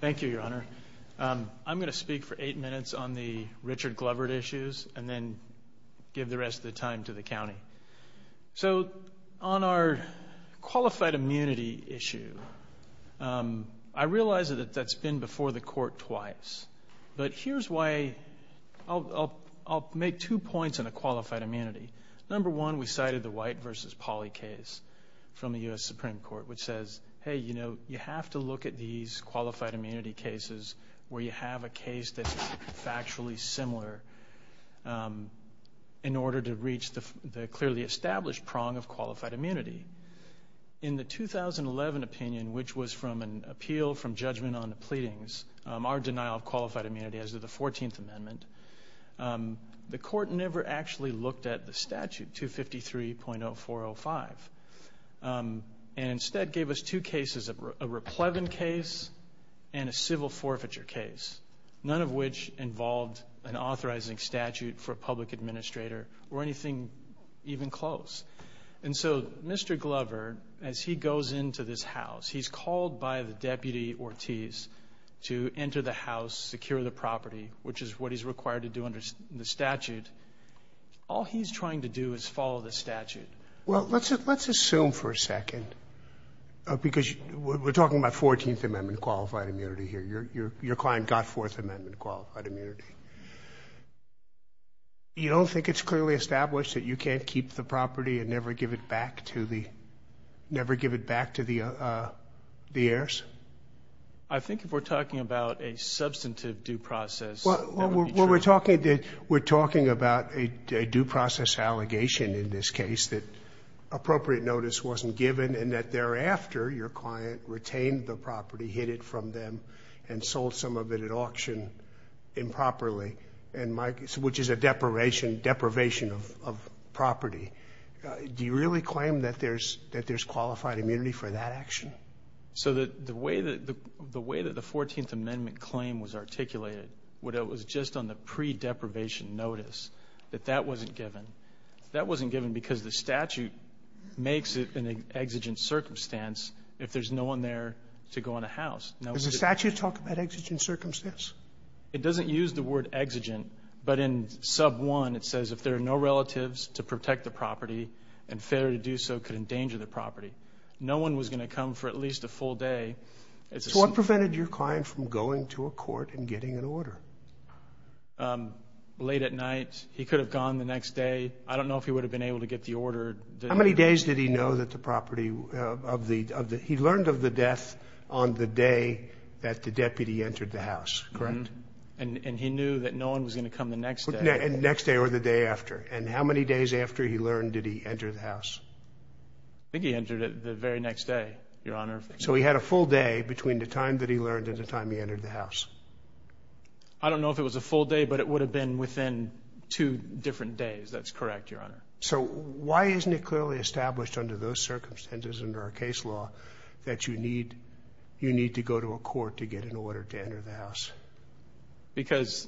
Thank you, Your Honor. I'm going to speak for eight minutes on the Richard Glovert issues and then give the rest of the time to the county. So, on our qualified immunity issue, I realize that that's been before the court twice. But here's why. I'll make two points on a qualified immunity. Number one, we cited the White v. Pauley case from the U.S. Supreme Court, which says, hey, you know, you have to look at these qualified immunity cases where you have a case that's factually similar in order to reach the clearly established prong of qualified immunity. In the 2011 opinion, which was from an appeal from judgment on the pleadings, our denial of qualified immunity as of the 14th Amendment, the court never actually looked at the statute, 253.0405, and instead gave us two cases, a replevant case and a civil forfeiture case, none of which involved an authorizing statute for a public administrator or anything even close. And so, Mr. Glovert, as he goes into this house, he's called by the Deputy Ortiz to enter the house, secure the property, which is what he's required to do under the statute. All he's trying to do is follow the statute. Well, let's assume for a second, because we're talking about 14th Amendment qualified immunity here. Your client got Fourth Amendment qualified immunity. You don't think it's clearly established that you can't keep the property and never give it back to the heirs? I think if we're talking about a substantive due process, that would be true. Well, we're talking about a due process allegation in this case that appropriate notice wasn't given and that thereafter your client retained the property, hid it from them, and sold some of it at auction improperly, which is a deprivation of property. Do you really claim that there's qualified immunity for that action? So the way that the 14th Amendment claim was articulated, it was just on the pre-deprivation notice that that wasn't given. That wasn't given because the statute makes it an exigent circumstance if there's no one there to go in a house. Does the statute talk about exigent circumstance? It doesn't use the word exigent, but in Sub 1 it says if there are no relatives to protect the property and failure to do so could endanger the property. No one was going to come for at least a full day. So what prevented your client from going to a court and getting an order? Late at night. He could have gone the next day. I don't know if he would have been able to get the order. How many days did he know that the property – he learned of the death on the day that the deputy entered the house, correct? And he knew that no one was going to come the next day. The next day or the day after. And how many days after he learned did he enter the house? I think he entered it the very next day, Your Honor. So he had a full day between the time that he learned and the time he entered the house. I don't know if it was a full day, but it would have been within two different days. That's correct, Your Honor. So why isn't it clearly established under those circumstances, under our case law, that you need to go to a court to get an order to enter the house? Because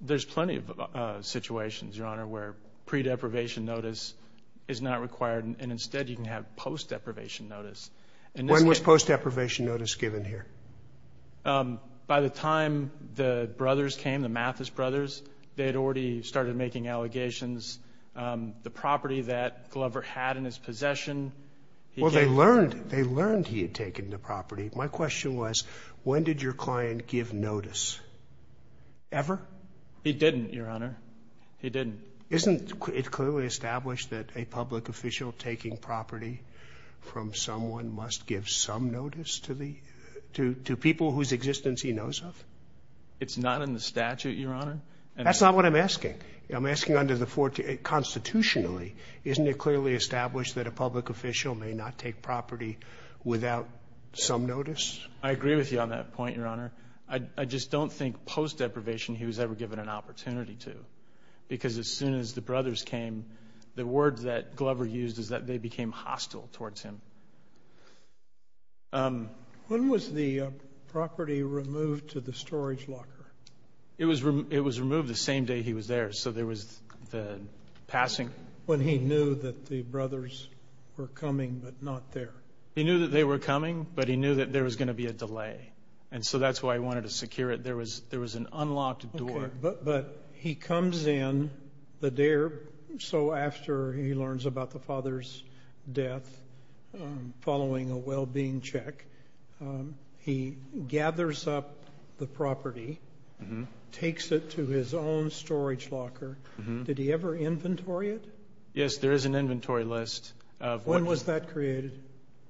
there's plenty of situations, Your Honor, where pre-deprivation notice is not required and instead you can have post-deprivation notice. When was post-deprivation notice given here? By the time the brothers came, the Mathis brothers, they had already started making allegations. The property that Glover had in his possession – Well, they learned he had taken the property. My question was, when did your client give notice? Ever? He didn't, Your Honor. He didn't. Isn't it clearly established that a public official taking property from someone must give some notice to people whose existence he knows of? It's not in the statute, Your Honor. That's not what I'm asking. I'm asking constitutionally. Isn't it clearly established that a public official may not take property without some notice? I agree with you on that point, Your Honor. I just don't think post-deprivation he was ever given an opportunity to because as soon as the brothers came, the word that Glover used is that they became hostile towards him. When was the property removed to the storage locker? It was removed the same day he was there, so there was the passing. When he knew that the brothers were coming but not there. He knew that they were coming, but he knew that there was going to be a delay, and so that's why he wanted to secure it. There was an unlocked door. Okay, but he comes in the day or so after he learns about the father's death following a well-being check. He gathers up the property, takes it to his own storage locker. Did he ever inventory it? Yes, there is an inventory list. When was that created?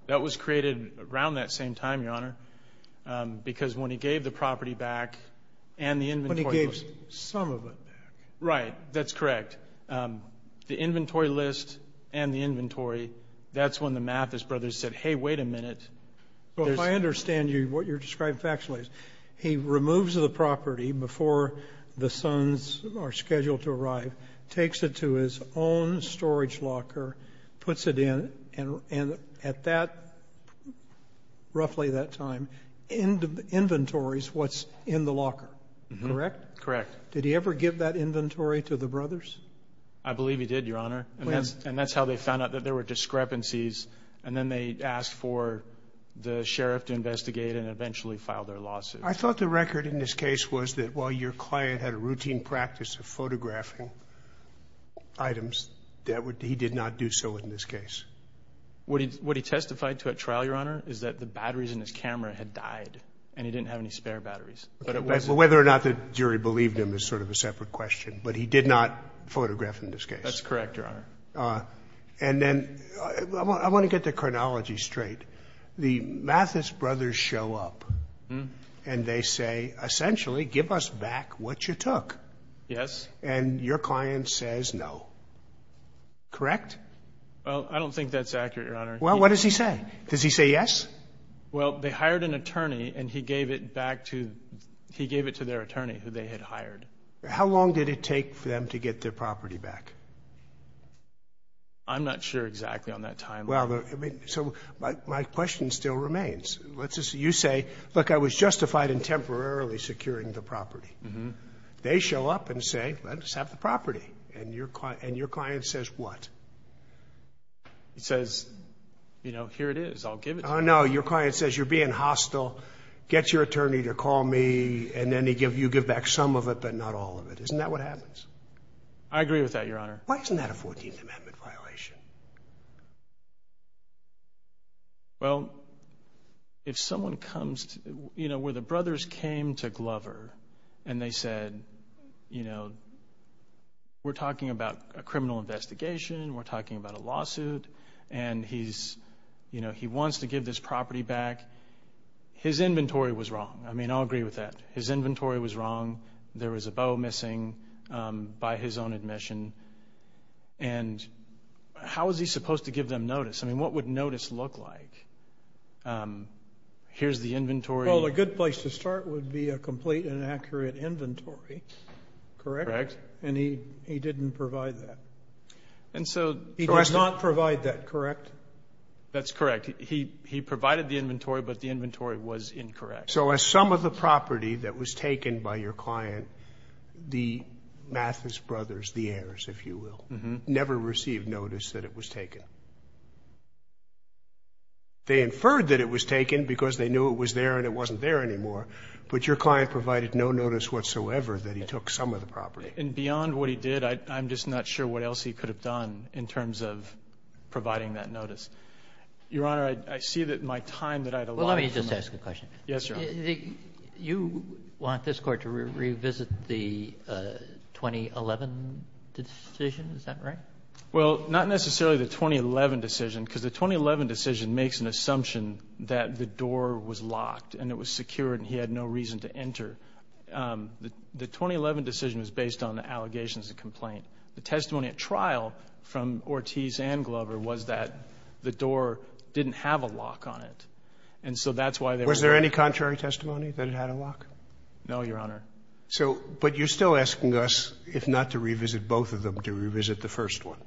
That was created around that same time, Your Honor, because when he gave the property back and the inventory list. When he gave some of it back. Right, that's correct. The inventory list and the inventory, that's when the Mathis brothers said, Hey, wait a minute. If I understand what you're describing factually, he removes the property before the sons are scheduled to arrive, takes it to his own storage locker, puts it in, and at that, roughly that time, inventories what's in the locker, correct? Correct. Did he ever give that inventory to the brothers? I believe he did, Your Honor, and that's how they found out that there were discrepancies, and then they asked for the sheriff to investigate and eventually file their lawsuit. I thought the record in this case was that while your client had a routine practice of photographing items, he did not do so in this case. What he testified to at trial, Your Honor, is that the batteries in his camera had died, and he didn't have any spare batteries. Whether or not the jury believed him is sort of a separate question, but he did not photograph in this case. That's correct, Your Honor. And then I want to get the chronology straight. The Mathis brothers show up, and they say, essentially, give us back what you took. Yes. And your client says no, correct? Well, I don't think that's accurate, Your Honor. Well, what does he say? Does he say yes? Well, they hired an attorney, and he gave it back to their attorney who they had hired. How long did it take for them to get their property back? I'm not sure exactly on that timeline. So my question still remains. You say, look, I was justified in temporarily securing the property. They show up and say, let us have the property, and your client says what? He says, you know, here it is, I'll give it to you. Oh, no, your client says, you're being hostile, get your attorney to call me, and then you give back some of it but not all of it. Isn't that what happens? I agree with that, Your Honor. Why isn't that a 14th Amendment violation? Well, if someone comes to, you know, where the brothers came to Glover and they said, you know, we're talking about a criminal investigation, we're talking about a lawsuit, and he wants to give this property back. His inventory was wrong. I mean, I'll agree with that. His inventory was wrong. There was a bow missing by his own admission. And how was he supposed to give them notice? I mean, what would notice look like? Here's the inventory. Well, a good place to start would be a complete and accurate inventory, correct? Correct. And he didn't provide that. He did not provide that, correct? That's correct. He provided the inventory, but the inventory was incorrect. So as some of the property that was taken by your client, the Mathis brothers, the heirs, if you will, never received notice that it was taken. They inferred that it was taken because they knew it was there and it wasn't there anymore, but your client provided no notice whatsoever that he took some of the property. And beyond what he did, I'm just not sure what else he could have done in terms of providing that notice. Your Honor, I see that my time that I had allotted to my client. Well, let me just ask a question. Yes, Your Honor. You want this court to revisit the 2011 decision. Is that right? Well, not necessarily the 2011 decision, because the 2011 decision makes an assumption that the door was locked and it was secured and he had no reason to enter. The 2011 decision was based on the allegations of complaint. The testimony at trial from Ortiz and Glover was that the door didn't have a lock on it. And so that's why they were there. Was there any contrary testimony that it had a lock? No, Your Honor. But you're still asking us, if not to revisit both of them, to revisit the first one.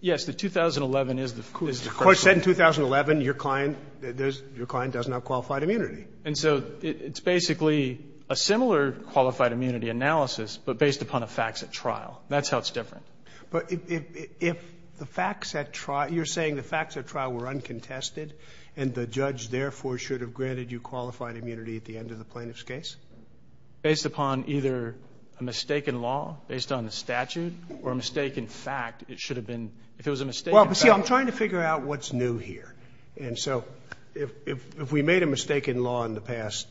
Yes. The 2011 is the first one. The court said in 2011 your client does not have qualified immunity. And so it's basically a similar qualified immunity analysis, but based upon the facts at trial. That's how it's different. But if the facts at trial, you're saying the facts at trial were uncontested and the judge, therefore, should have granted you qualified immunity at the end of the plaintiff's case? Based upon either a mistake in law based on the statute or a mistake in fact. It should have been, if it was a mistake in fact. Well, see, I'm trying to figure out what's new here. And so if we made a mistake in law in the past,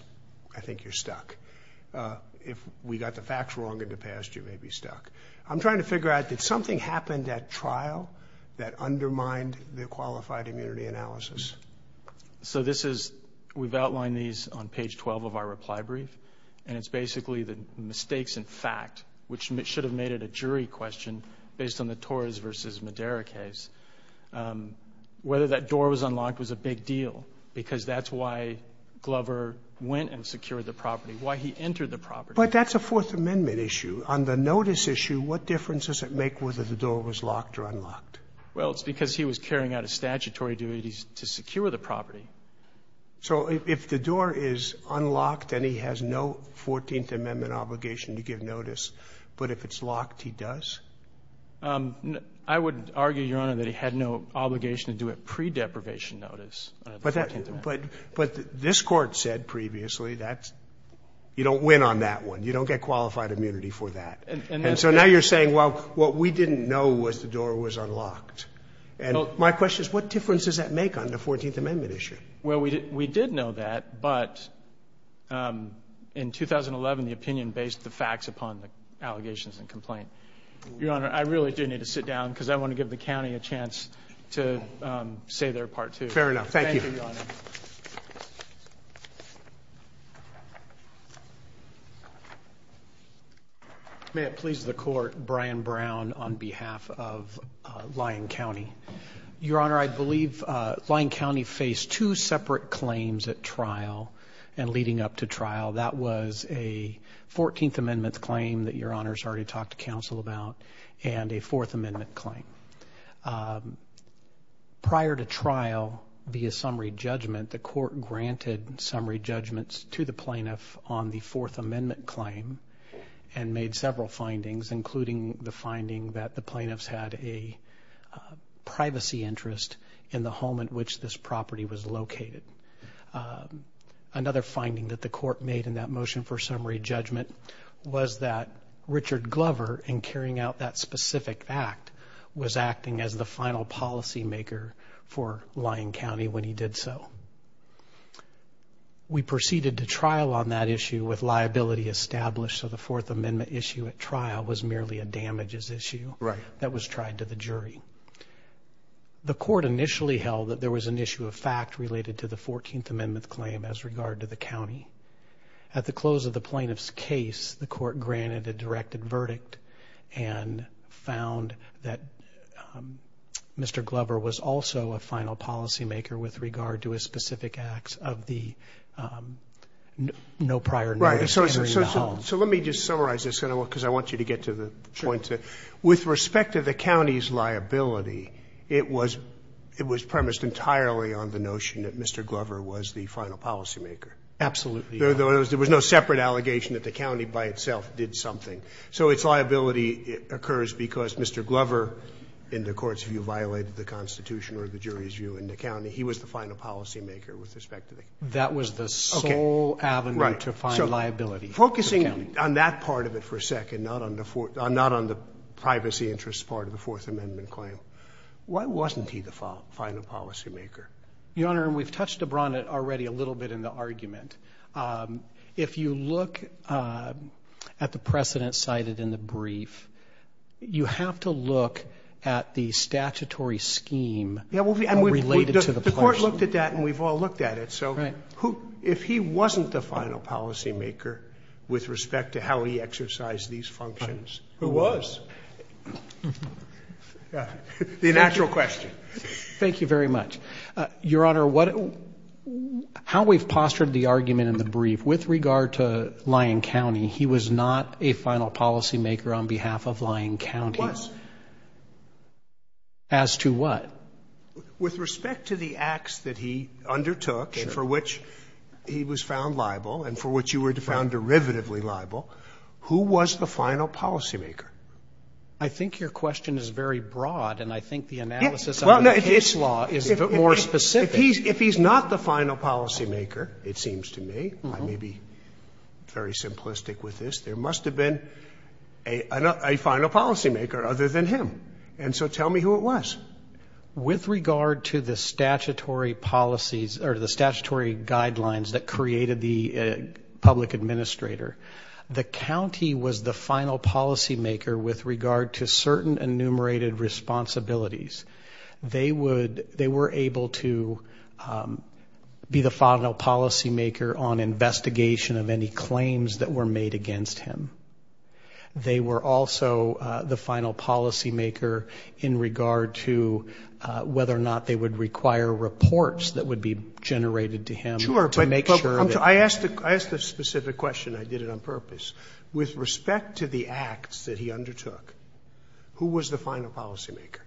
I think you're stuck. If we got the facts wrong in the past, you may be stuck. I'm trying to figure out, did something happen at trial that undermined the qualified immunity analysis? So this is, we've outlined these on page 12 of our reply brief. And it's basically the mistakes in fact, which should have made it a jury question based on the Torres versus Madera case. Whether that door was unlocked was a big deal because that's why Glover went and secured the property, why he entered the property. But that's a Fourth Amendment issue. On the notice issue, what difference does it make whether the door was locked or unlocked? Well, it's because he was carrying out a statutory duty to secure the property. So if the door is unlocked and he has no Fourteenth Amendment obligation to give notice, but if it's locked, he does? I would argue, Your Honor, that he had no obligation to do it pre-deprivation notice under the Fourteenth Amendment. But this Court said previously that you don't win on that one. You don't get qualified immunity for that. And so now you're saying, well, what we didn't know was the door was unlocked. And my question is, what difference does that make on the Fourteenth Amendment issue? Well, we did know that, but in 2011, the opinion based the facts upon the allegations and complaint. Your Honor, I really do need to sit down because I want to give the county a chance to say their part too. Fair enough. Thank you. Thank you, Your Honor. May it please the Court, Brian Brown on behalf of Lyon County. Your Honor, I believe Lyon County faced two separate claims at trial and leading up to trial. That was a Fourteenth Amendment claim that Your Honor has already talked to counsel about and a Fourth Amendment claim. Prior to trial via summary judgment, the Court granted summary judgments to the plaintiff on the Fourth Amendment claim and made several findings, including the finding that the plaintiffs had a privacy interest in the home in which this property was located. Another finding that the Court made in that motion for summary judgment was that Richard Glover, in carrying out that specific act, was acting as the final policymaker for Lyon County when he did so. We proceeded to trial on that issue with liability established, so the Fourth Amendment issue at trial was merely a damages issue. Right. That was tried to the jury. The Court initially held that there was an issue of fact related to the Fourteenth Amendment claim as regard to the county. At the close of the plaintiff's case, the Court granted a directed verdict and found that Mr. Glover was also a final policymaker with regard to a specific act of the no prior notice entering the home. Right. So let me just summarize this, because I want you to get to the point. With respect to the county's liability, it was premised entirely on the notion that Mr. Glover was the final policymaker. Absolutely. There was no separate allegation that the county by itself did something. So its liability occurs because Mr. Glover, in the Court's view, violated the Constitution or the jury's view in the county. He was the final policymaker with respect to the county. That was the sole avenue to find liability. Right. So focusing on that part of it for a second, not on the privacy interest part of the Fourth Amendment claim, why wasn't he the final policymaker? Your Honor, and we've touched upon it already a little bit in the argument. If you look at the precedent cited in the brief, you have to look at the statutory scheme related to the place. The Court looked at that, and we've all looked at it. So if he wasn't the final policymaker with respect to how he exercised these functions, who was? The natural question. Thank you very much. Your Honor, how we've postured the argument in the brief, with regard to Lyon County, he was not a final policymaker on behalf of Lyon County. He was. As to what? With respect to the acts that he undertook, for which he was found liable and for which you were found derivatively liable, who was the final policymaker? I think your question is very broad, and I think the analysis of the case law is a bit more specific. If he's not the final policymaker, it seems to me, I may be very simplistic with this, there must have been a final policymaker other than him. And so tell me who it was. With regard to the statutory policies, or the statutory guidelines that created the public administrator, the county was the final policymaker with regard to certain enumerated responsibilities. They were able to be the final policymaker on investigation of any claims that were made against him. They were also the final policymaker in regard to whether or not they would require reports that would be generated to him to make sure that. I asked a specific question. I did it on purpose. With respect to the acts that he undertook, who was the final policymaker?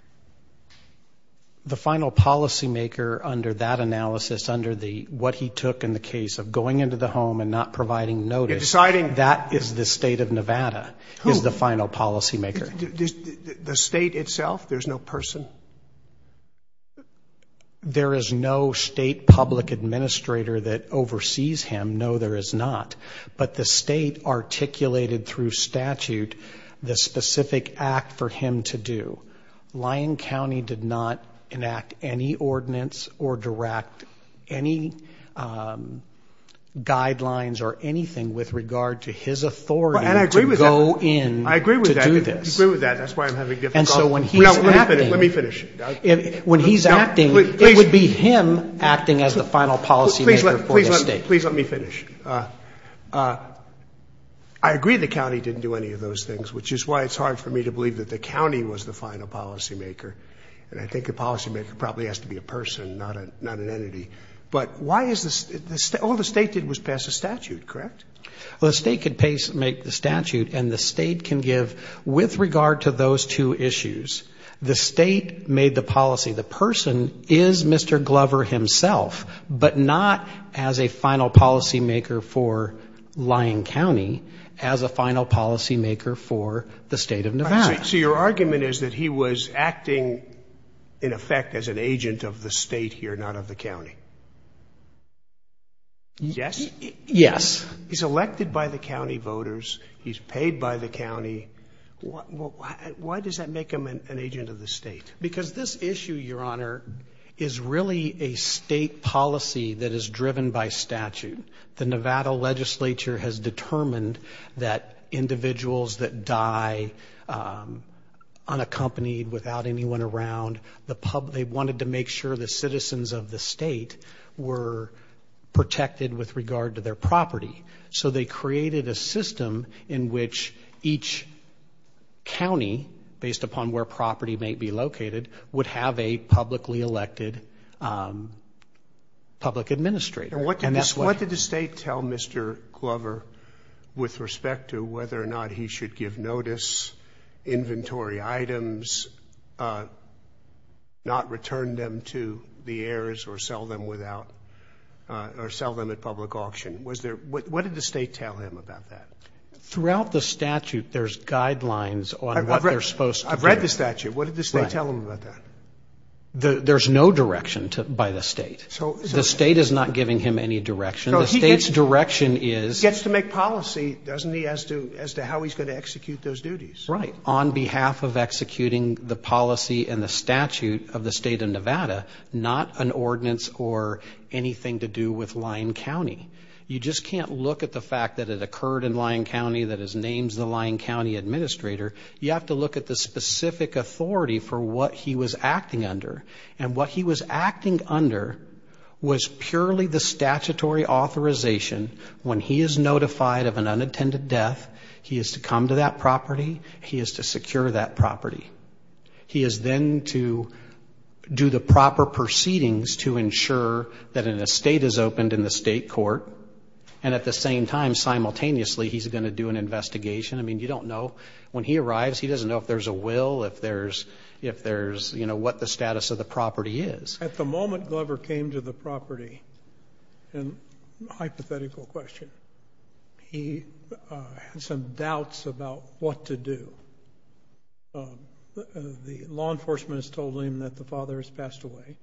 The final policymaker under that analysis, under what he took in the case of going into the home and not providing notice, that is the state of Nevada is the final policymaker. The state itself? There's no person? There is no state public administrator that oversees him. No, there is not. But the state articulated through statute the specific act for him to do. Lyon County did not enact any ordinance or direct any guidelines or anything with regard to his authority to go in to do this. I agree with that. That's why I'm having difficulty. Let me finish. When he's acting, it would be him acting as the final policymaker for the state. Please let me finish. I agree the county didn't do any of those things, which is why it's hard for me to believe that the county was the final policymaker. And I think the policymaker probably has to be a person, not an entity. But why is this? All the state did was pass a statute, correct? Well, the state could make the statute, and the state can give with regard to those two issues. The state made the policy. The person is Mr. Glover himself, but not as a final policymaker for Lyon County, as a final policymaker for the state of Nevada. So your argument is that he was acting in effect as an agent of the state here, not of the county? Yes. Yes. He's elected by the county voters. He's paid by the county. Why does that make him an agent of the state? Because this issue, Your Honor, is really a state policy that is driven by statute. The Nevada legislature has determined that individuals that die unaccompanied, without anyone around, they wanted to make sure the citizens of the state were protected with regard to their property. So they created a system in which each county, based upon where property may be located, would have a publicly elected public administrator. What did the state tell Mr. Glover with respect to whether or not he should give notice, inventory items, not return them to the heirs or sell them at public auction? What did the state tell him about that? Throughout the statute, there's guidelines on what they're supposed to do. I've read the statute. What did the state tell him about that? There's no direction by the state. The state is not giving him any direction. The state's direction is he gets to make policy, doesn't he, as to how he's going to execute those duties. Right. On behalf of executing the policy and the statute of the state of Nevada, not an ordinance or anything to do with Lyon County. You just can't look at the fact that it occurred in Lyon County, that it's named the Lyon County administrator. You have to look at the specific authority for what he was acting under. And what he was acting under was purely the statutory authorization. When he is notified of an unattended death, he is to come to that property. He is to secure that property. He is then to do the proper proceedings to ensure that an estate is opened in the state court. And at the same time, simultaneously, he's going to do an investigation. I mean, you don't know. When he arrives, he doesn't know if there's a will, if there's what the status of the property is. At the moment Glover came to the property, and hypothetical question, he had some doubts about what to do. The law enforcement has told him that the father has passed away.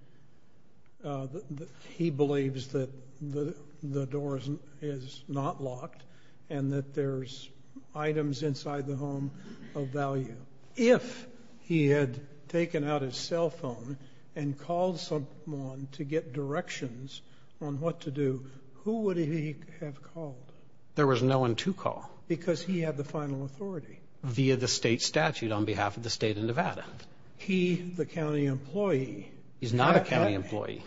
He believes that the door is not locked and that there's items inside the home of value. If he had taken out his cell phone and called someone to get directions on what to do, who would he have called? There was no one to call. Because he had the final authority. Via the state statute on behalf of the state of Nevada. Is he the county employee? He's not a county employee.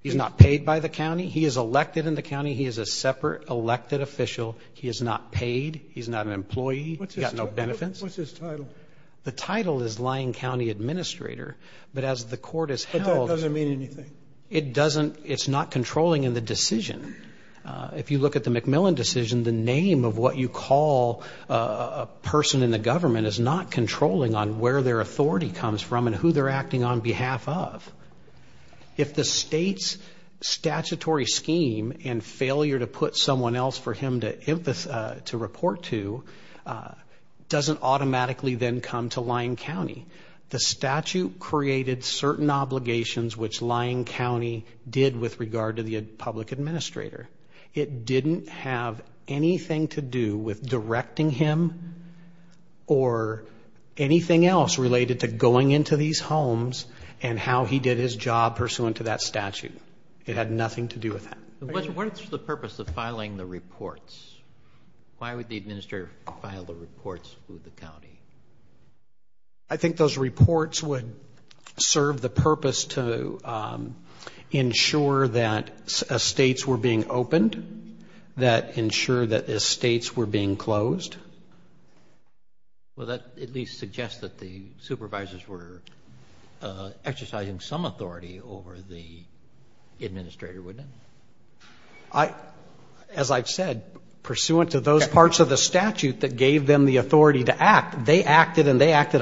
He's not paid by the county. He is elected in the county. He is a separate elected official. He is not paid. He's not an employee. He's got no benefits. What's his title? The title is Lyon County Administrator. But as the court has held – But that doesn't mean anything. It doesn't. It's not controlling in the decision. If you look at the McMillan decision, the name of what you call a person in the government is not controlling on where their authority comes from and who they're acting on behalf of. If the state's statutory scheme and failure to put someone else for him to report to doesn't automatically then come to Lyon County, the statute created certain obligations, which Lyon County did with regard to the public administrator. It didn't have anything to do with directing him or anything else related to going into these homes and how he did his job pursuant to that statute. It had nothing to do with that. What is the purpose of filing the reports? Why would the administrator file the reports with the county? I think those reports would serve the purpose to ensure that estates were being opened, that ensure that estates were being closed. Well, that at least suggests that the supervisors were exercising some authority over the administrator, wouldn't it? As I've said, pursuant to those parts of the statute that gave them the authority to act, They didn't have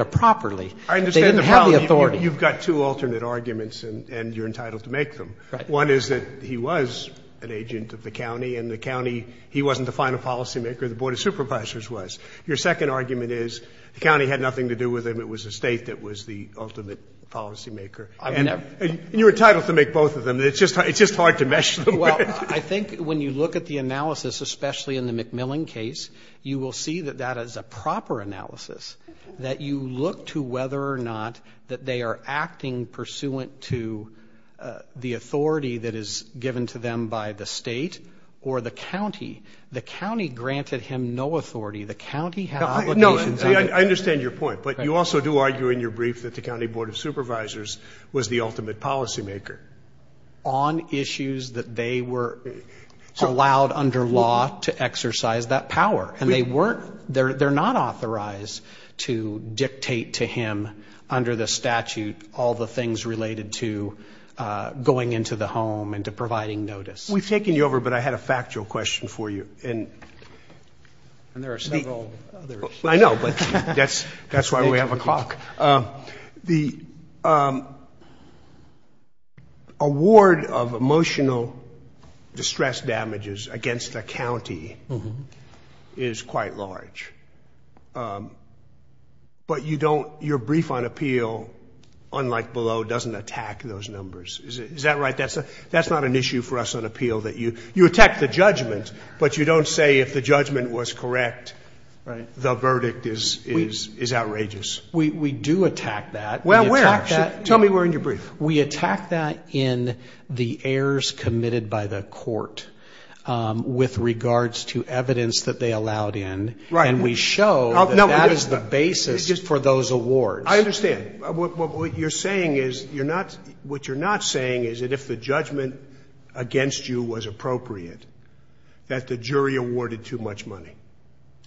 the authority. You've got two alternate arguments and you're entitled to make them. One is that he was an agent of the county and the county, he wasn't the final policymaker. The Board of Supervisors was. Your second argument is the county had nothing to do with him. It was the state that was the ultimate policymaker. And you're entitled to make both of them. It's just hard to mesh them. Well, I think when you look at the analysis, especially in the McMillan case, you will see that that is a proper analysis, that you look to whether or not that they are acting pursuant to the authority that is given to them by the state or the county. The county granted him no authority. The county had obligations. No, I understand your point. But you also do argue in your brief that the County Board of Supervisors was the ultimate policymaker. On issues that they were allowed under law to exercise that power. And they're not authorized to dictate to him under the statute all the things related to going into the home and to providing notice. We've taken you over, but I had a factual question for you. And there are several others. I know, but that's why we have a clock. The award of emotional distress damages against a county is quite large. But you don't, your brief on appeal, unlike below, doesn't attack those numbers. Is that right? That's not an issue for us on appeal. You attack the judgment, but you don't say if the judgment was correct, the verdict is outrageous. We do attack that. Well, where? Tell me where in your brief. We attack that in the errors committed by the court with regards to evidence that they allowed in. Right. And we show that that is the basis for those awards. I understand. What you're saying is you're not, what you're not saying is that if the judgment against you was appropriate, that the jury awarded too much money.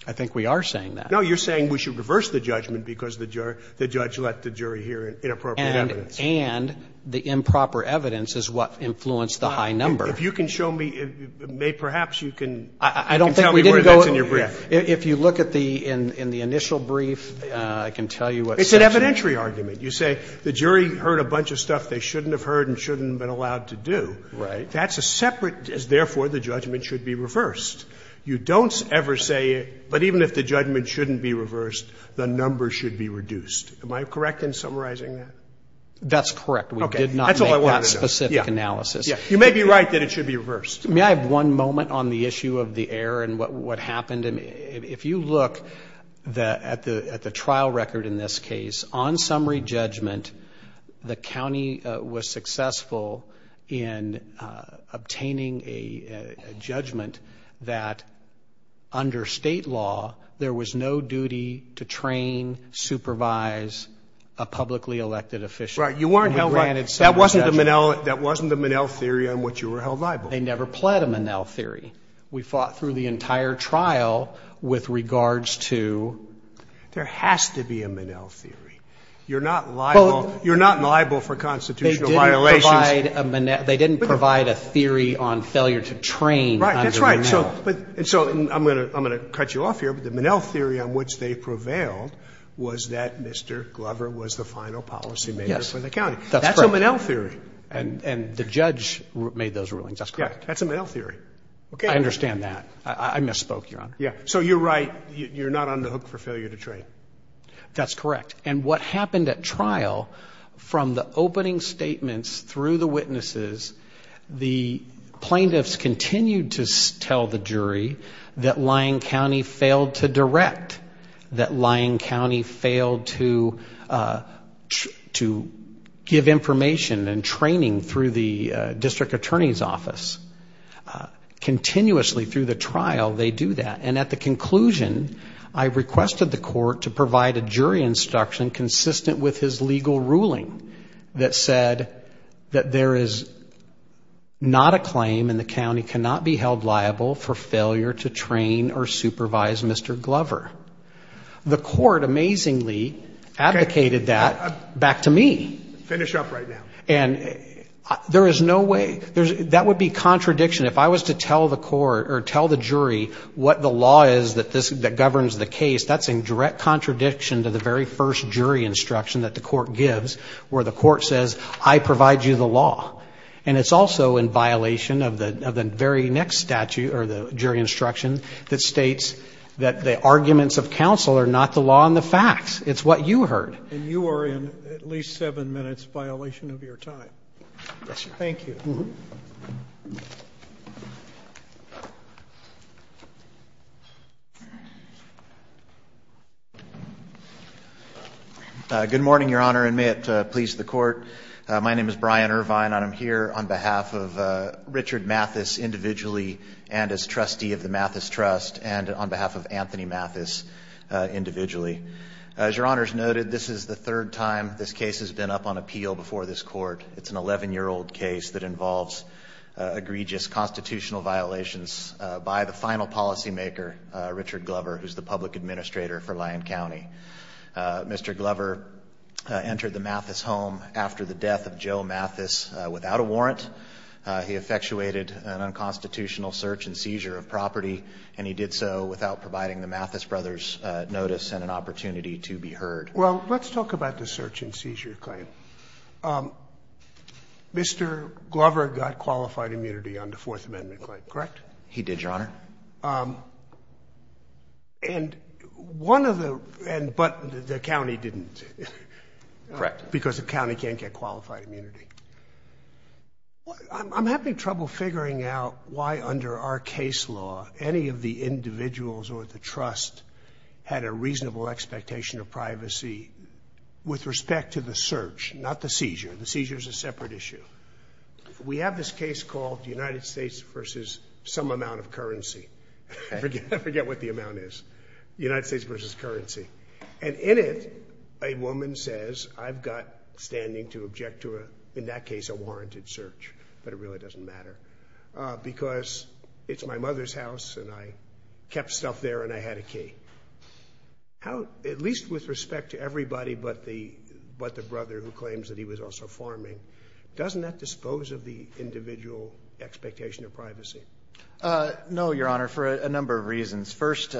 I think we are saying that. No, you're saying we should reverse the judgment because the judge let the jury hear inappropriate evidence. And the improper evidence is what influenced the high number. If you can show me, perhaps you can tell me where that's in your brief. I don't think we did go, if you look at the initial brief, I can tell you what section. It's an evidentiary argument. You say the jury heard a bunch of stuff they shouldn't have heard and shouldn't have been allowed to do. Right. That's a separate, therefore the judgment should be reversed. You don't ever say, but even if the judgment shouldn't be reversed, the number should be reduced. Am I correct in summarizing that? That's correct. We did not make that specific analysis. You may be right that it should be reversed. May I have one moment on the issue of the error and what happened? If you look at the trial record in this case, on summary judgment, the county was successful in obtaining a judgment that under state law there was no duty to train, supervise a publicly elected official. Right. You weren't held liable. That wasn't the Minnell theory on which you were held liable. They never pled a Minnell theory. We fought through the entire trial with regards to... There has to be a Minnell theory. You're not liable for constitutional violations. They didn't provide a theory on failure to train under Minnell. Right. That's right. I'm going to cut you off here, but the Minnell theory on which they prevailed was that Mr. Glover was the final policymaker for the county. That's correct. That's a Minnell theory. And the judge made those rulings. That's correct. That's a Minnell theory. I understand that. I misspoke, Your Honor. So you're right. You're not on the hook for failure to train. That's correct. And what happened at trial, from the opening statements through the witnesses, the plaintiffs continued to tell the jury that Lyon County failed to direct, that Lyon County failed to give information and training through the district attorney's office. Continuously through the trial, they do that. And at the conclusion, I requested the court to provide a jury instruction consistent with his legal ruling that said that there is not a claim and the county cannot be held liable for failure to train or supervise Mr. Glover. The court amazingly advocated that back to me. Finish up right now. And there is no way that would be contradiction. If I was to tell the court or tell the jury what the law is that governs the case, that's in direct contradiction to the very first jury instruction that the court gives where the court says, I provide you the law. And it's also in violation of the very next statute or the jury instruction that states that the arguments of counsel are not the law and the facts. It's what you heard. And you are in at least seven minutes violation of your time. Yes, sir. Thank you. Thank you. Good morning, Your Honor, and may it please the court. My name is Brian Irvine. I'm here on behalf of Richard Mathis individually and as trustee of the Mathis Trust and on behalf of Anthony Mathis individually. As Your Honor has noted, this is the third time this case has been up on appeal before this court. It's an 11-year-old case that involves egregious constitutional violations by the final policymaker, Richard Glover, who is the public administrator for Lyon County. Mr. Glover entered the Mathis home after the death of Joe Mathis without a warrant. He effectuated an unconstitutional search and seizure of property, and he did so without providing the Mathis brothers notice and an opportunity to be heard. Well, let's talk about the search and seizure claim. Mr. Glover got qualified immunity on the Fourth Amendment claim, correct? He did, Your Honor. And one of the — but the county didn't. Correct. Because the county can't get qualified immunity. I'm having trouble figuring out why, under our case law, any of the individuals or the trust had a reasonable expectation of privacy with respect to the search, not the seizure. The seizure is a separate issue. We have this case called United States versus some amount of currency. I forget what the amount is. United States versus currency. And in it, a woman says, I've got standing to object to, in that case, a warranted search. But it really doesn't matter. Because it's my mother's house, and I kept stuff there, and I had a key. At least with respect to everybody but the brother who claims that he was also farming, doesn't that dispose of the individual expectation of privacy? No, Your Honor, for a number of reasons. First,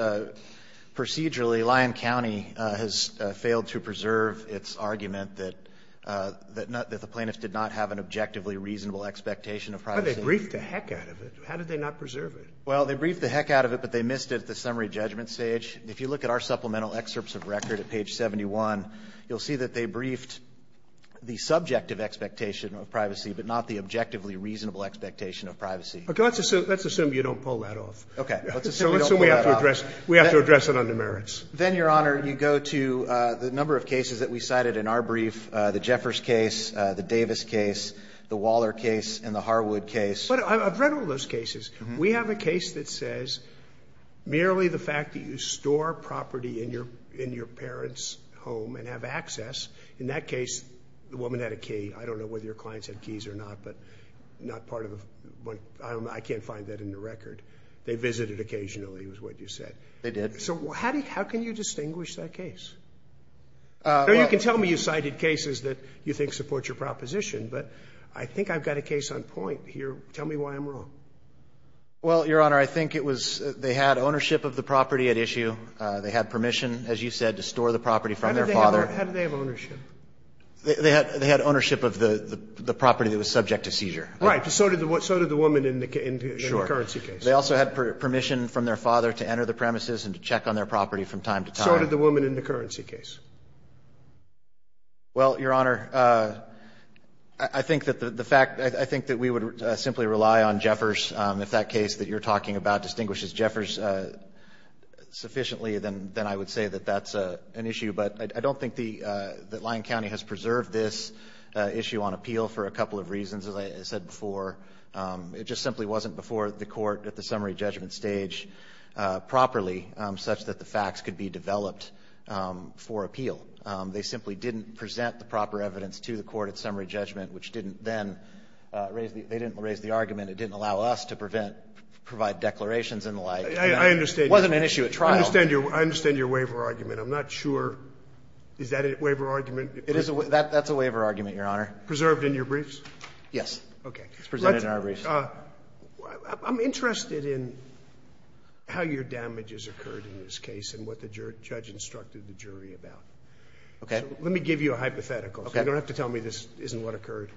procedurally, Lyon County has failed to preserve its argument that the plaintiffs did not have an objectively reasonable expectation of privacy. Why did they brief the heck out of it? How did they not preserve it? Well, they briefed the heck out of it, but they missed it at the summary judgment stage. If you look at our supplemental excerpts of record at page 71, you'll see that they briefed the subjective expectation of privacy, but not the objectively reasonable expectation of privacy. Okay. Let's assume you don't pull that off. Okay. Let's assume we don't pull that off. So let's assume we have to address it under merits. Then, Your Honor, you go to the number of cases that we cited in our brief, the Jeffers case, the Davis case, the Waller case, and the Harwood case. But I've read all those cases. We have a case that says merely the fact that you store property in your parents' home and have access. In that case, the woman had a key. I don't know whether your clients had keys or not, but not part of the – I can't find that in the record. They visited occasionally is what you said. They did. So how can you distinguish that case? You can tell me you cited cases that you think support your proposition, but I think I've got a case on point here. Tell me why I'm wrong. Well, Your Honor, I think it was they had ownership of the property at issue. They had permission, as you said, to store the property from their father. How did they have ownership? They had ownership of the property that was subject to seizure. Right. So did the woman in the currency case. Sure. They also had permission from their father to enter the premises and to check on their property from time to time. How did the woman in the currency case? Well, Your Honor, I think that the fact – I think that we would simply rely on Jeffers. If that case that you're talking about distinguishes Jeffers sufficiently, then I would say that that's an issue. But I don't think that Lyon County has preserved this issue on appeal for a couple of reasons, as I said before. It just simply wasn't before the court at the summary judgment stage properly such that the facts could be developed for appeal. They simply didn't present the proper evidence to the court at summary judgment, which didn't then raise the – they didn't raise the argument. It didn't allow us to prevent – provide declarations and the like. I understand. It wasn't an issue at trial. I understand your waiver argument. I'm not sure. Is that a waiver argument? That's a waiver argument, Your Honor. Preserved in your briefs? Yes. It's presented in our briefs. I'm interested in how your damages occurred in this case and what the judge instructed the jury about. Okay. Let me give you a hypothetical. Okay. You don't have to tell me this isn't what occurred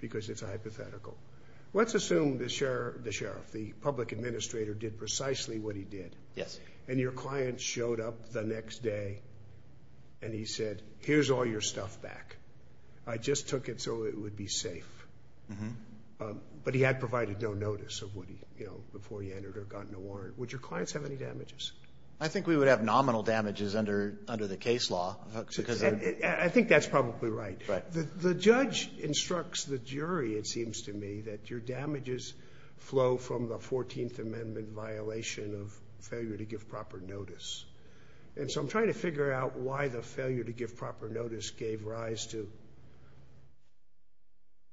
because it's a hypothetical. Let's assume the sheriff, the public administrator, did precisely what he did. Yes. And your client showed up the next day and he said, here's all your stuff back. I just took it so it would be safe. Mm-hmm. But he had provided no notice of what he – you know, before he entered or got no warrant. Would your clients have any damages? I think we would have nominal damages under the case law. I think that's probably right. Right. The judge instructs the jury, it seems to me, that your damages flow from the 14th Amendment violation of failure to give proper notice. And so I'm trying to figure out why the failure to give proper notice gave rise to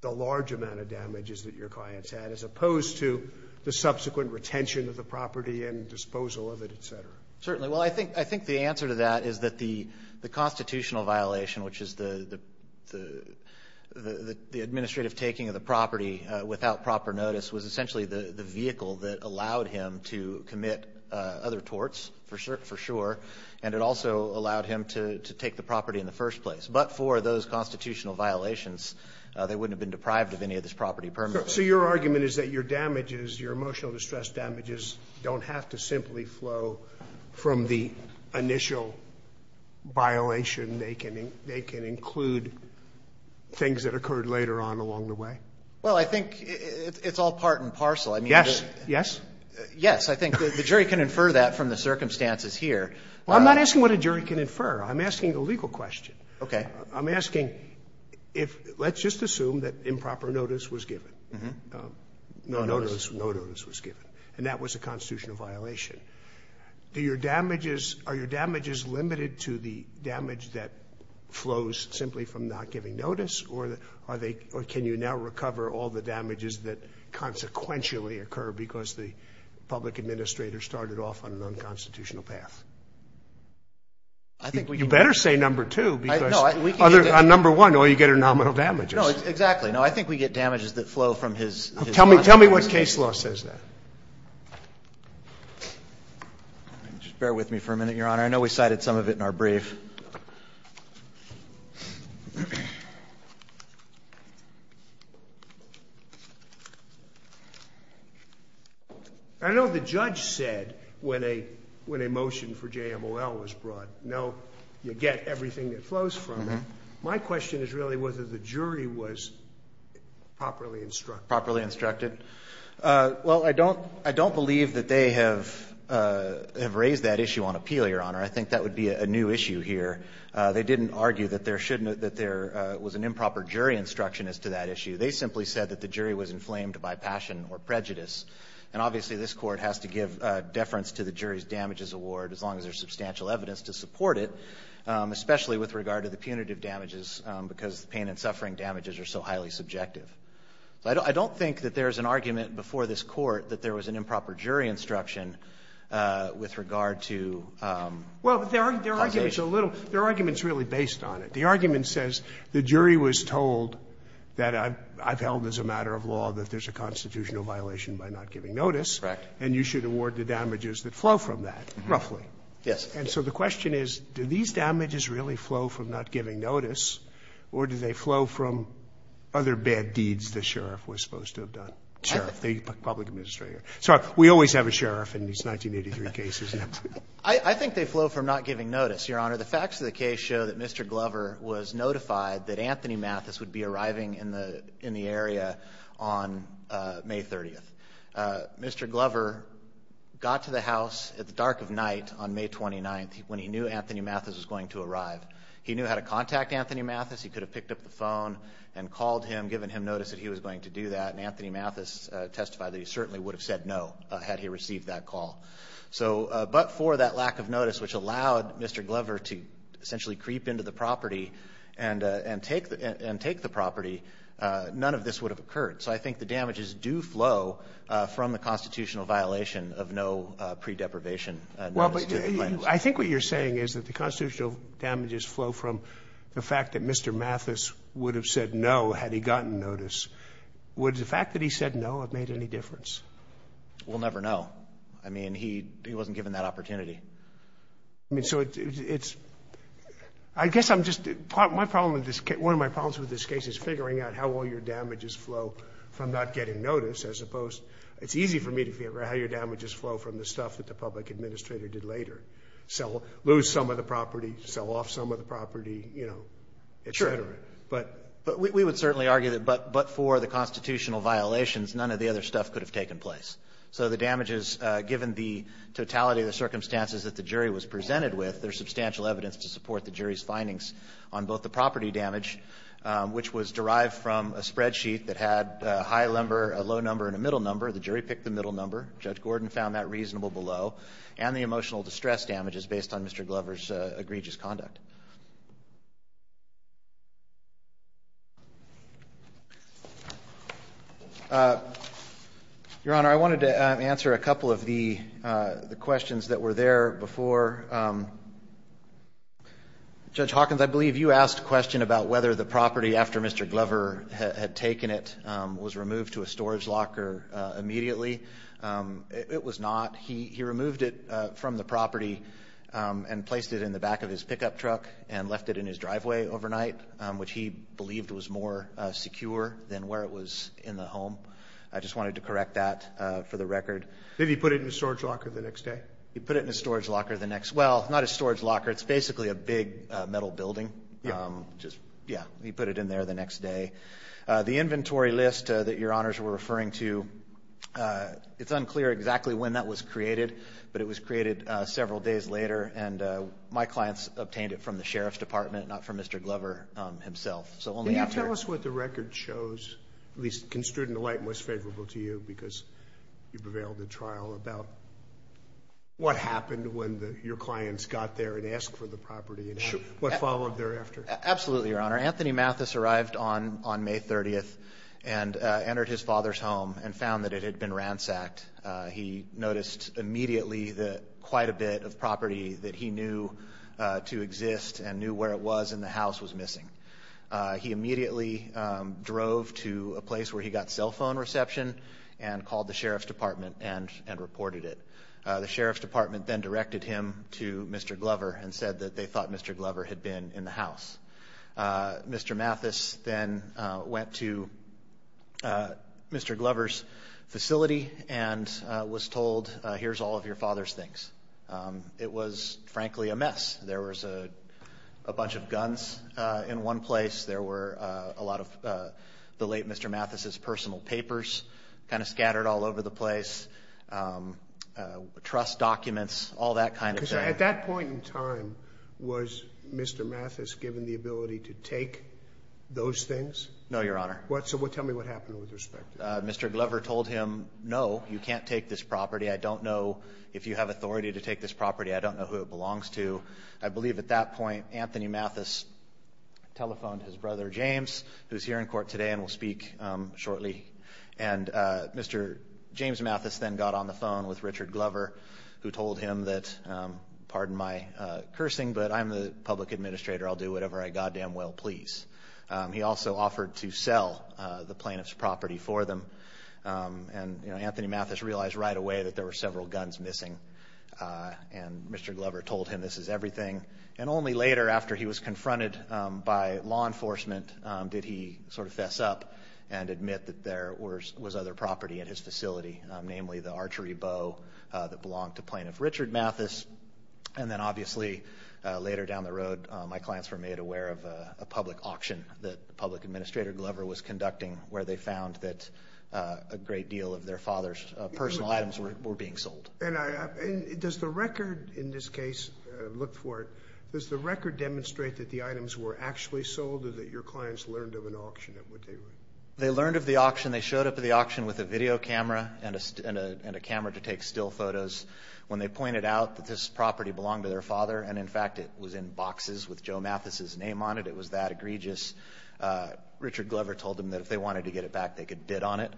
the large amount of damages that your clients had as opposed to the subsequent retention of the property and disposal of it, et cetera. Certainly. Well, I think the answer to that is that the constitutional violation, which is the administrative taking of the property without proper notice, was essentially the vehicle that allowed him to commit other torts, for sure, and it also allowed him to take the property in the first place. But for those constitutional violations, they wouldn't have been deprived of any of this property permanently. So your argument is that your damages, your emotional distress damages, don't have to simply flow from the initial violation. They can include things that occurred later on along the way. Well, I think it's all part and parcel. Yes. Yes? Yes. I think the jury can infer that from the circumstances here. Well, I'm not asking what a jury can infer. I'm asking a legal question. Okay. I'm asking if, let's just assume that improper notice was given. No notice. No notice was given. And that was a constitutional violation. Do your damages, are your damages limited to the damage that flows simply from not giving notice, or are they, or can you now recover all the damages that consequentially occur because the public administrator started off on an unconstitutional path? I think we can. You better say number two, because on number one, all you get are nominal damages. No, exactly. No, I think we get damages that flow from his not giving notice. Tell me what case law says that. Just bear with me for a minute, Your Honor. I know we cited some of it in our brief. I know the judge said when a motion for JMOL was brought, no, you get everything that flows from it. My question is really whether the jury was properly instructed. Properly instructed. Well, I don't believe that they have raised that issue on appeal, Your Honor. I think that would be a new issue here. They didn't argue that there was an improper jury instruction as to that issue. They simply said that the jury was inflamed by passion or prejudice. And obviously this court has to give deference to the jury's damages award as long as there's substantial evidence to support it, especially with regard to the punitive damages because the pain and suffering damages are so highly subjective. I don't think that there's an argument before this Court that there was an improper jury instruction with regard to punitive damages. Well, their argument's a little – their argument's really based on it. The argument says the jury was told that I've held as a matter of law that there's a constitutional violation by not giving notice. Correct. And you should award the damages that flow from that, roughly. Yes. And so the question is, do these damages really flow from not giving notice or do they exceed the sheriff was supposed to have done? Sheriff. The public administrator. Sorry, we always have a sheriff in these 1983 cases. I think they flow from not giving notice, Your Honor. The facts of the case show that Mr. Glover was notified that Anthony Mathis would be arriving in the area on May 30th. Mr. Glover got to the house at the dark of night on May 29th when he knew Anthony Mathis was going to arrive. He knew how to contact Anthony Mathis. He could have picked up the phone and called him, given him notice that he was going to do that, and Anthony Mathis testified that he certainly would have said no had he received that call. So but for that lack of notice, which allowed Mr. Glover to essentially creep into the property and take the property, none of this would have occurred. So I think the damages do flow from the constitutional violation of no pre-deprivation notice to the claims. Well, but I think what you're saying is that the constitutional damages flow from the fact that Mr. Mathis would have said no had he gotten notice. Would the fact that he said no have made any difference? We'll never know. I mean, he wasn't given that opportunity. I mean, so it's – I guess I'm just – my problem with this – one of my problems with this case is figuring out how all your damages flow from not getting notice as opposed – it's easy for me to figure out how your damages flow from the stuff that the public administrator did later. Sell – lose some of the property, sell off some of the property, you know, et cetera. But we would certainly argue that but for the constitutional violations, none of the other stuff could have taken place. So the damages, given the totality of the circumstances that the jury was presented with, there's substantial evidence to support the jury's findings on both the property damage, which was derived from a spreadsheet that had a high number, a low number, and a middle number. The jury picked the middle number. Judge Gordon found that reasonable below. And the emotional distress damages based on Mr. Glover's egregious conduct. Your Honor, I wanted to answer a couple of the questions that were there before. Judge Hawkins, I believe you asked a question about whether the property after Mr. Glover had taken it was removed to a storage locker immediately. It was not. He removed it from the property and placed it in the back of his pickup truck and left it in his driveway overnight, which he believed was more secure than where it was in the home. I just wanted to correct that for the record. Did he put it in a storage locker the next day? He put it in a storage locker the next – well, not a storage locker. It's basically a big metal building. Yeah. Yeah. He put it in there the next day. The inventory list that Your Honors were referring to, it's unclear exactly when that was created, but it was created several days later. And my clients obtained it from the Sheriff's Department, not from Mr. Glover himself. So only after – Can you tell us what the record shows, at least construed in the light most favorable to you, because you've availed a trial about what happened when your clients got there and asked for the property and what followed thereafter? Absolutely, Your Honor. Anthony Mathis arrived on May 30th and entered his father's home and found that it had been ransacked. He noticed immediately that quite a bit of property that he knew to exist and knew where it was in the house was missing. He immediately drove to a place where he got cell phone reception and called the Sheriff's Department and reported it. The Sheriff's Department then directed him to Mr. Glover and said that they thought Mr. Glover had been in the house. Mr. Mathis then went to Mr. Glover's facility and was told, here's all of your father's things. It was, frankly, a mess. There was a bunch of guns in one place. There were a lot of the late Mr. Mathis's personal papers kind of scattered all over the place, trust documents, all that kind of thing. At that point in time, was Mr. Mathis given the ability to take those things? No, Your Honor. Tell me what happened with respect to that. Mr. Glover told him, no, you can't take this property. I don't know if you have authority to take this property. I don't know who it belongs to. I believe at that point, Anthony Mathis telephoned his brother, James, who is here in court today and will speak shortly. Mr. James Mathis then got on the phone with Richard Glover who told him that, pardon my cursing, but I'm the public administrator. I'll do whatever I goddamn well please. He also offered to sell the plaintiff's property for them. Anthony Mathis realized right away that there were several guns missing. Mr. Glover told him this is everything. Only later, after he was confronted by law enforcement, did he sort of fess up and admit that there was other property in his facility, namely the archery bow that belonged to plaintiff Richard Mathis. Then obviously, later down the road, my clients were made aware of a public auction that the public administrator, Glover, was conducting where they found that a great deal of their father's personal items were being sold. Does the record in this case, look for it, does the record demonstrate that the items were actually sold or that your clients learned of an auction? They learned of the auction. They showed up at the auction with a video camera and a camera to take still photos. When they pointed out that this property belonged to their father, and in fact it was in boxes with Joe Mathis' name on it, it was that egregious, Richard Glover told them that if they wanted to get it back, they could bid on it.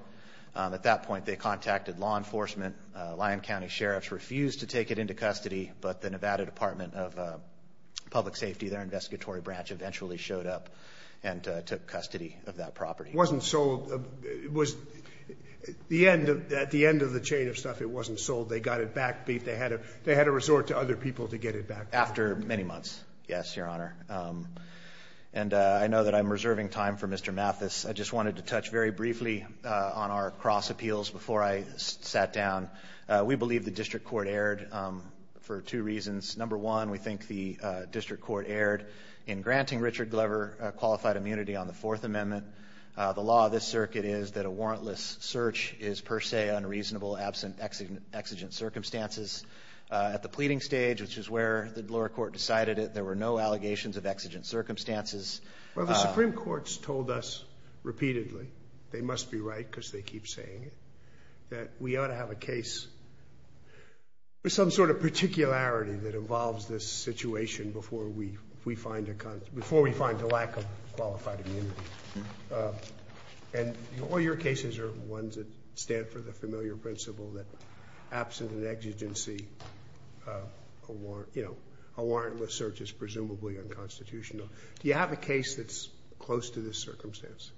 At that point, they contacted law enforcement. Lyon County sheriffs refused to take it into custody, but the Nevada Department of Public It wasn't sold. At the end of the chain of stuff, it wasn't sold. They got it back. They had to resort to other people to get it back. After many months, yes, Your Honor. I know that I'm reserving time for Mr. Mathis. I just wanted to touch very briefly on our cross appeals before I sat down. We believe the district court erred for two reasons. Number one, we think the district court erred in granting Richard Glover qualified immunity on the Fourth Amendment. The law of this circuit is that a warrantless search is per se unreasonable, absent exigent circumstances. At the pleading stage, which is where the lower court decided it, there were no allegations of exigent circumstances. Well, the Supreme Court's told us repeatedly, they must be right because they keep saying it, that we ought to have a case with some sort of particularity that involves this situation before we find a lack of qualified immunity. And all your cases are ones that stand for the familiar principle that absent an exigency, a warrantless search is presumably unconstitutional. Do you have a case that's close to this circumstance?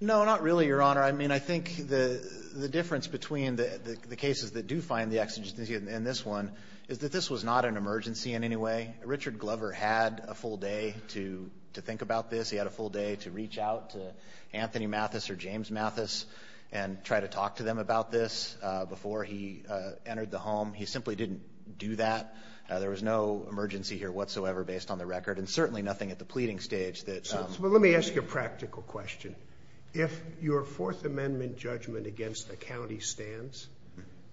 No, not really, Your Honor. I mean, I think the difference between the cases that do find the exigency in this one is that this was not an emergency in any way. Richard Glover had a full day to think about this. He had a full day to reach out to Anthony Mathis or James Mathis and try to talk to them about this before he entered the home. He simply didn't do that. There was no emergency here whatsoever, based on the record, and certainly nothing at the pleading stage. Let me ask you a practical question. If your Fourth Amendment judgment against the county stands,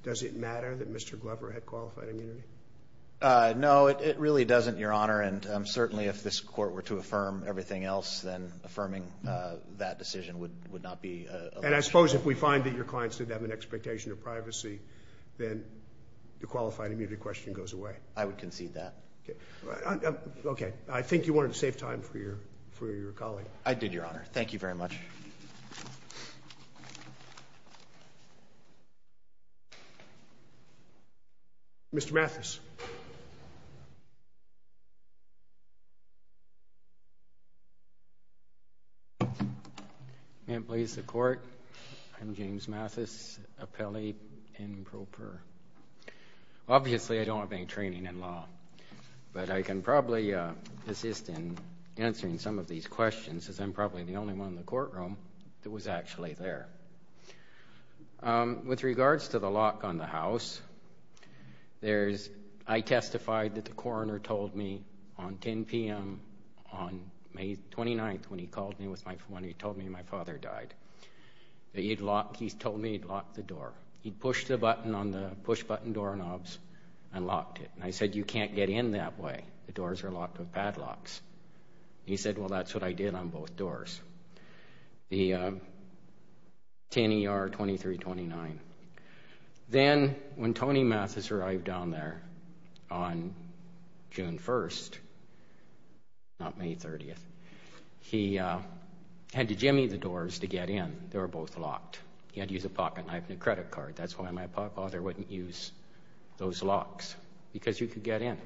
does it matter that Mr. Glover had qualified immunity? No, it really doesn't, Your Honor. And certainly if this court were to affirm everything else, then affirming that decision would not be a luxury. And I suppose if we find that your clients didn't have an expectation of privacy, then the qualified immunity question goes away. I would concede that. Okay. I think you wanted to save time for your colleague. I did, Your Honor. Thank you very much. Mr. Mathis. May it please the Court. I'm James Mathis, appellee in pro per. Obviously, I don't have any training in law, but I can probably assist in answering some of these questions, as I'm probably the only one in the courtroom that was actually there. With regards to the lock on the house, I testified that the coroner told me on 10 p.m. on May 29th, when he told me my father died, that he told me he'd locked the door. He pushed a button on the push-button doorknobs and locked it. And I said, you can't get in that way. The doors are locked with padlocks. He said, well, that's what I did on both doors. The 10 ER 2329. Then when Tony Mathis arrived down there on June 1st, not May 30th, he had to jimmy the doors to get in. They were both locked. He had to use a pocketknife and a credit card. That's why my father wouldn't use those locks, because you could get in.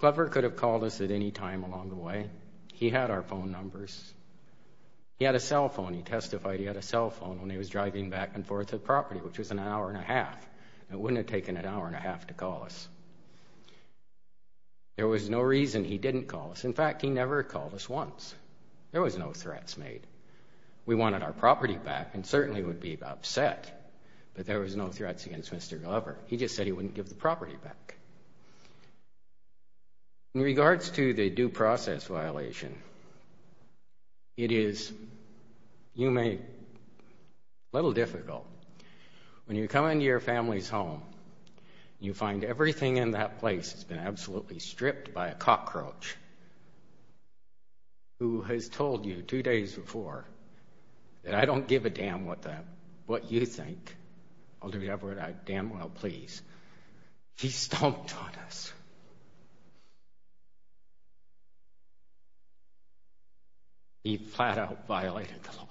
Clever could have called us at any time along the way. He had our phone numbers. He had a cell phone. He testified he had a cell phone when he was driving back and forth to the property, which was an hour and a half. It wouldn't have taken an hour and a half to call us. There was no reason he didn't call us. In fact, he never called us once. There was no threats made. We wanted our property back and certainly would be upset, but there was no threats against Mr. Glover. He just said he wouldn't give the property back. In regards to the due process violation, it is, you may, a little difficult. When you come into your family's home, you find everything in that place has been absolutely stripped by a cockroach who has told you two days before that I don't give a damn what you think. I'll do whatever I damn well please. He stomped on us. He flat out violated the law.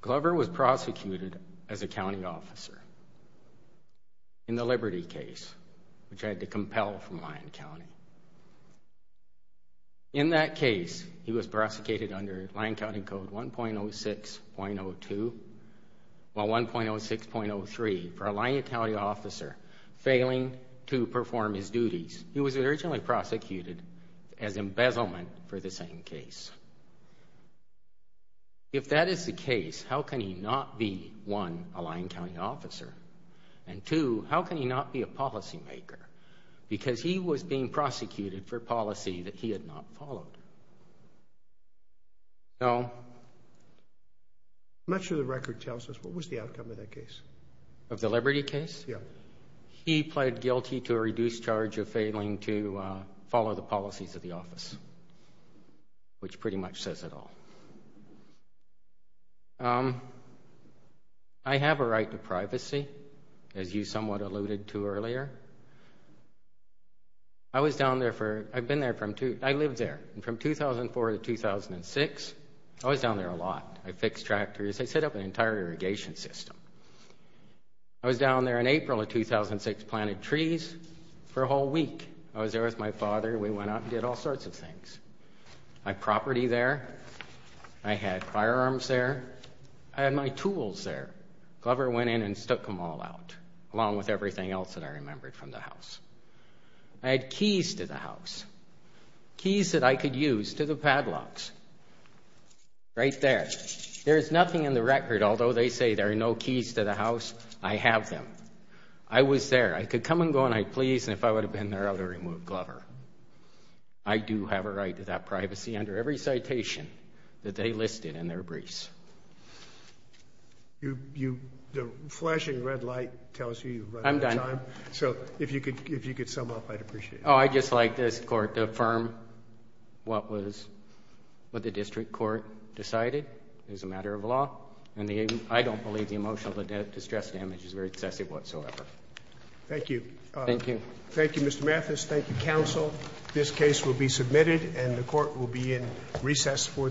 Glover was prosecuted as a county officer in the Liberty case, which I had to compel from Lyon County. In that case, he was prosecuted under Lyon County Code 1.06.02, well, 1.06.03 for a Lyon County case. He was originally prosecuted as embezzlement for the same case. If that is the case, how can he not be, one, a Lyon County officer, and two, how can he not be a policymaker? Because he was being prosecuted for policy that he had not followed. I'm not sure the record tells us what was the outcome of that case. Of the Liberty case? Yeah. He pled guilty to a reduced charge of failing to follow the policies of the office, which pretty much says it all. I have a right to privacy, as you somewhat alluded to earlier. I was down there for, I've been there from, I lived there from 2004 to 2006. I was down there a lot. I fixed tractors. I set up an entire irrigation system. I was down there in April of 2006, planted trees for a whole week. I was there with my father. We went out and did all sorts of things. I had property there. I had firearms there. I had my tools there. Glover went in and stuck them all out, along with everything else that I remembered from the house. I had keys to the house, keys that I could use to the padlocks, right there. There is nothing in the record, although they say there are no keys to the house, I have them. I was there. I could come and go and I'd please, and if I would have been there, I would have removed Glover. I do have a right to that privacy under every citation that they listed in their briefs. The flashing red light tells you you're running out of time, so if you could sum up, I'd appreciate it. Oh, I'd just like this court to affirm what the district court decided as a matter of law. I don't believe the emotional distress damage is very excessive whatsoever. Thank you. Thank you. Thank you, Mr. Mathis. Thank you, counsel. This case will be submitted and the court will be in recess for the day.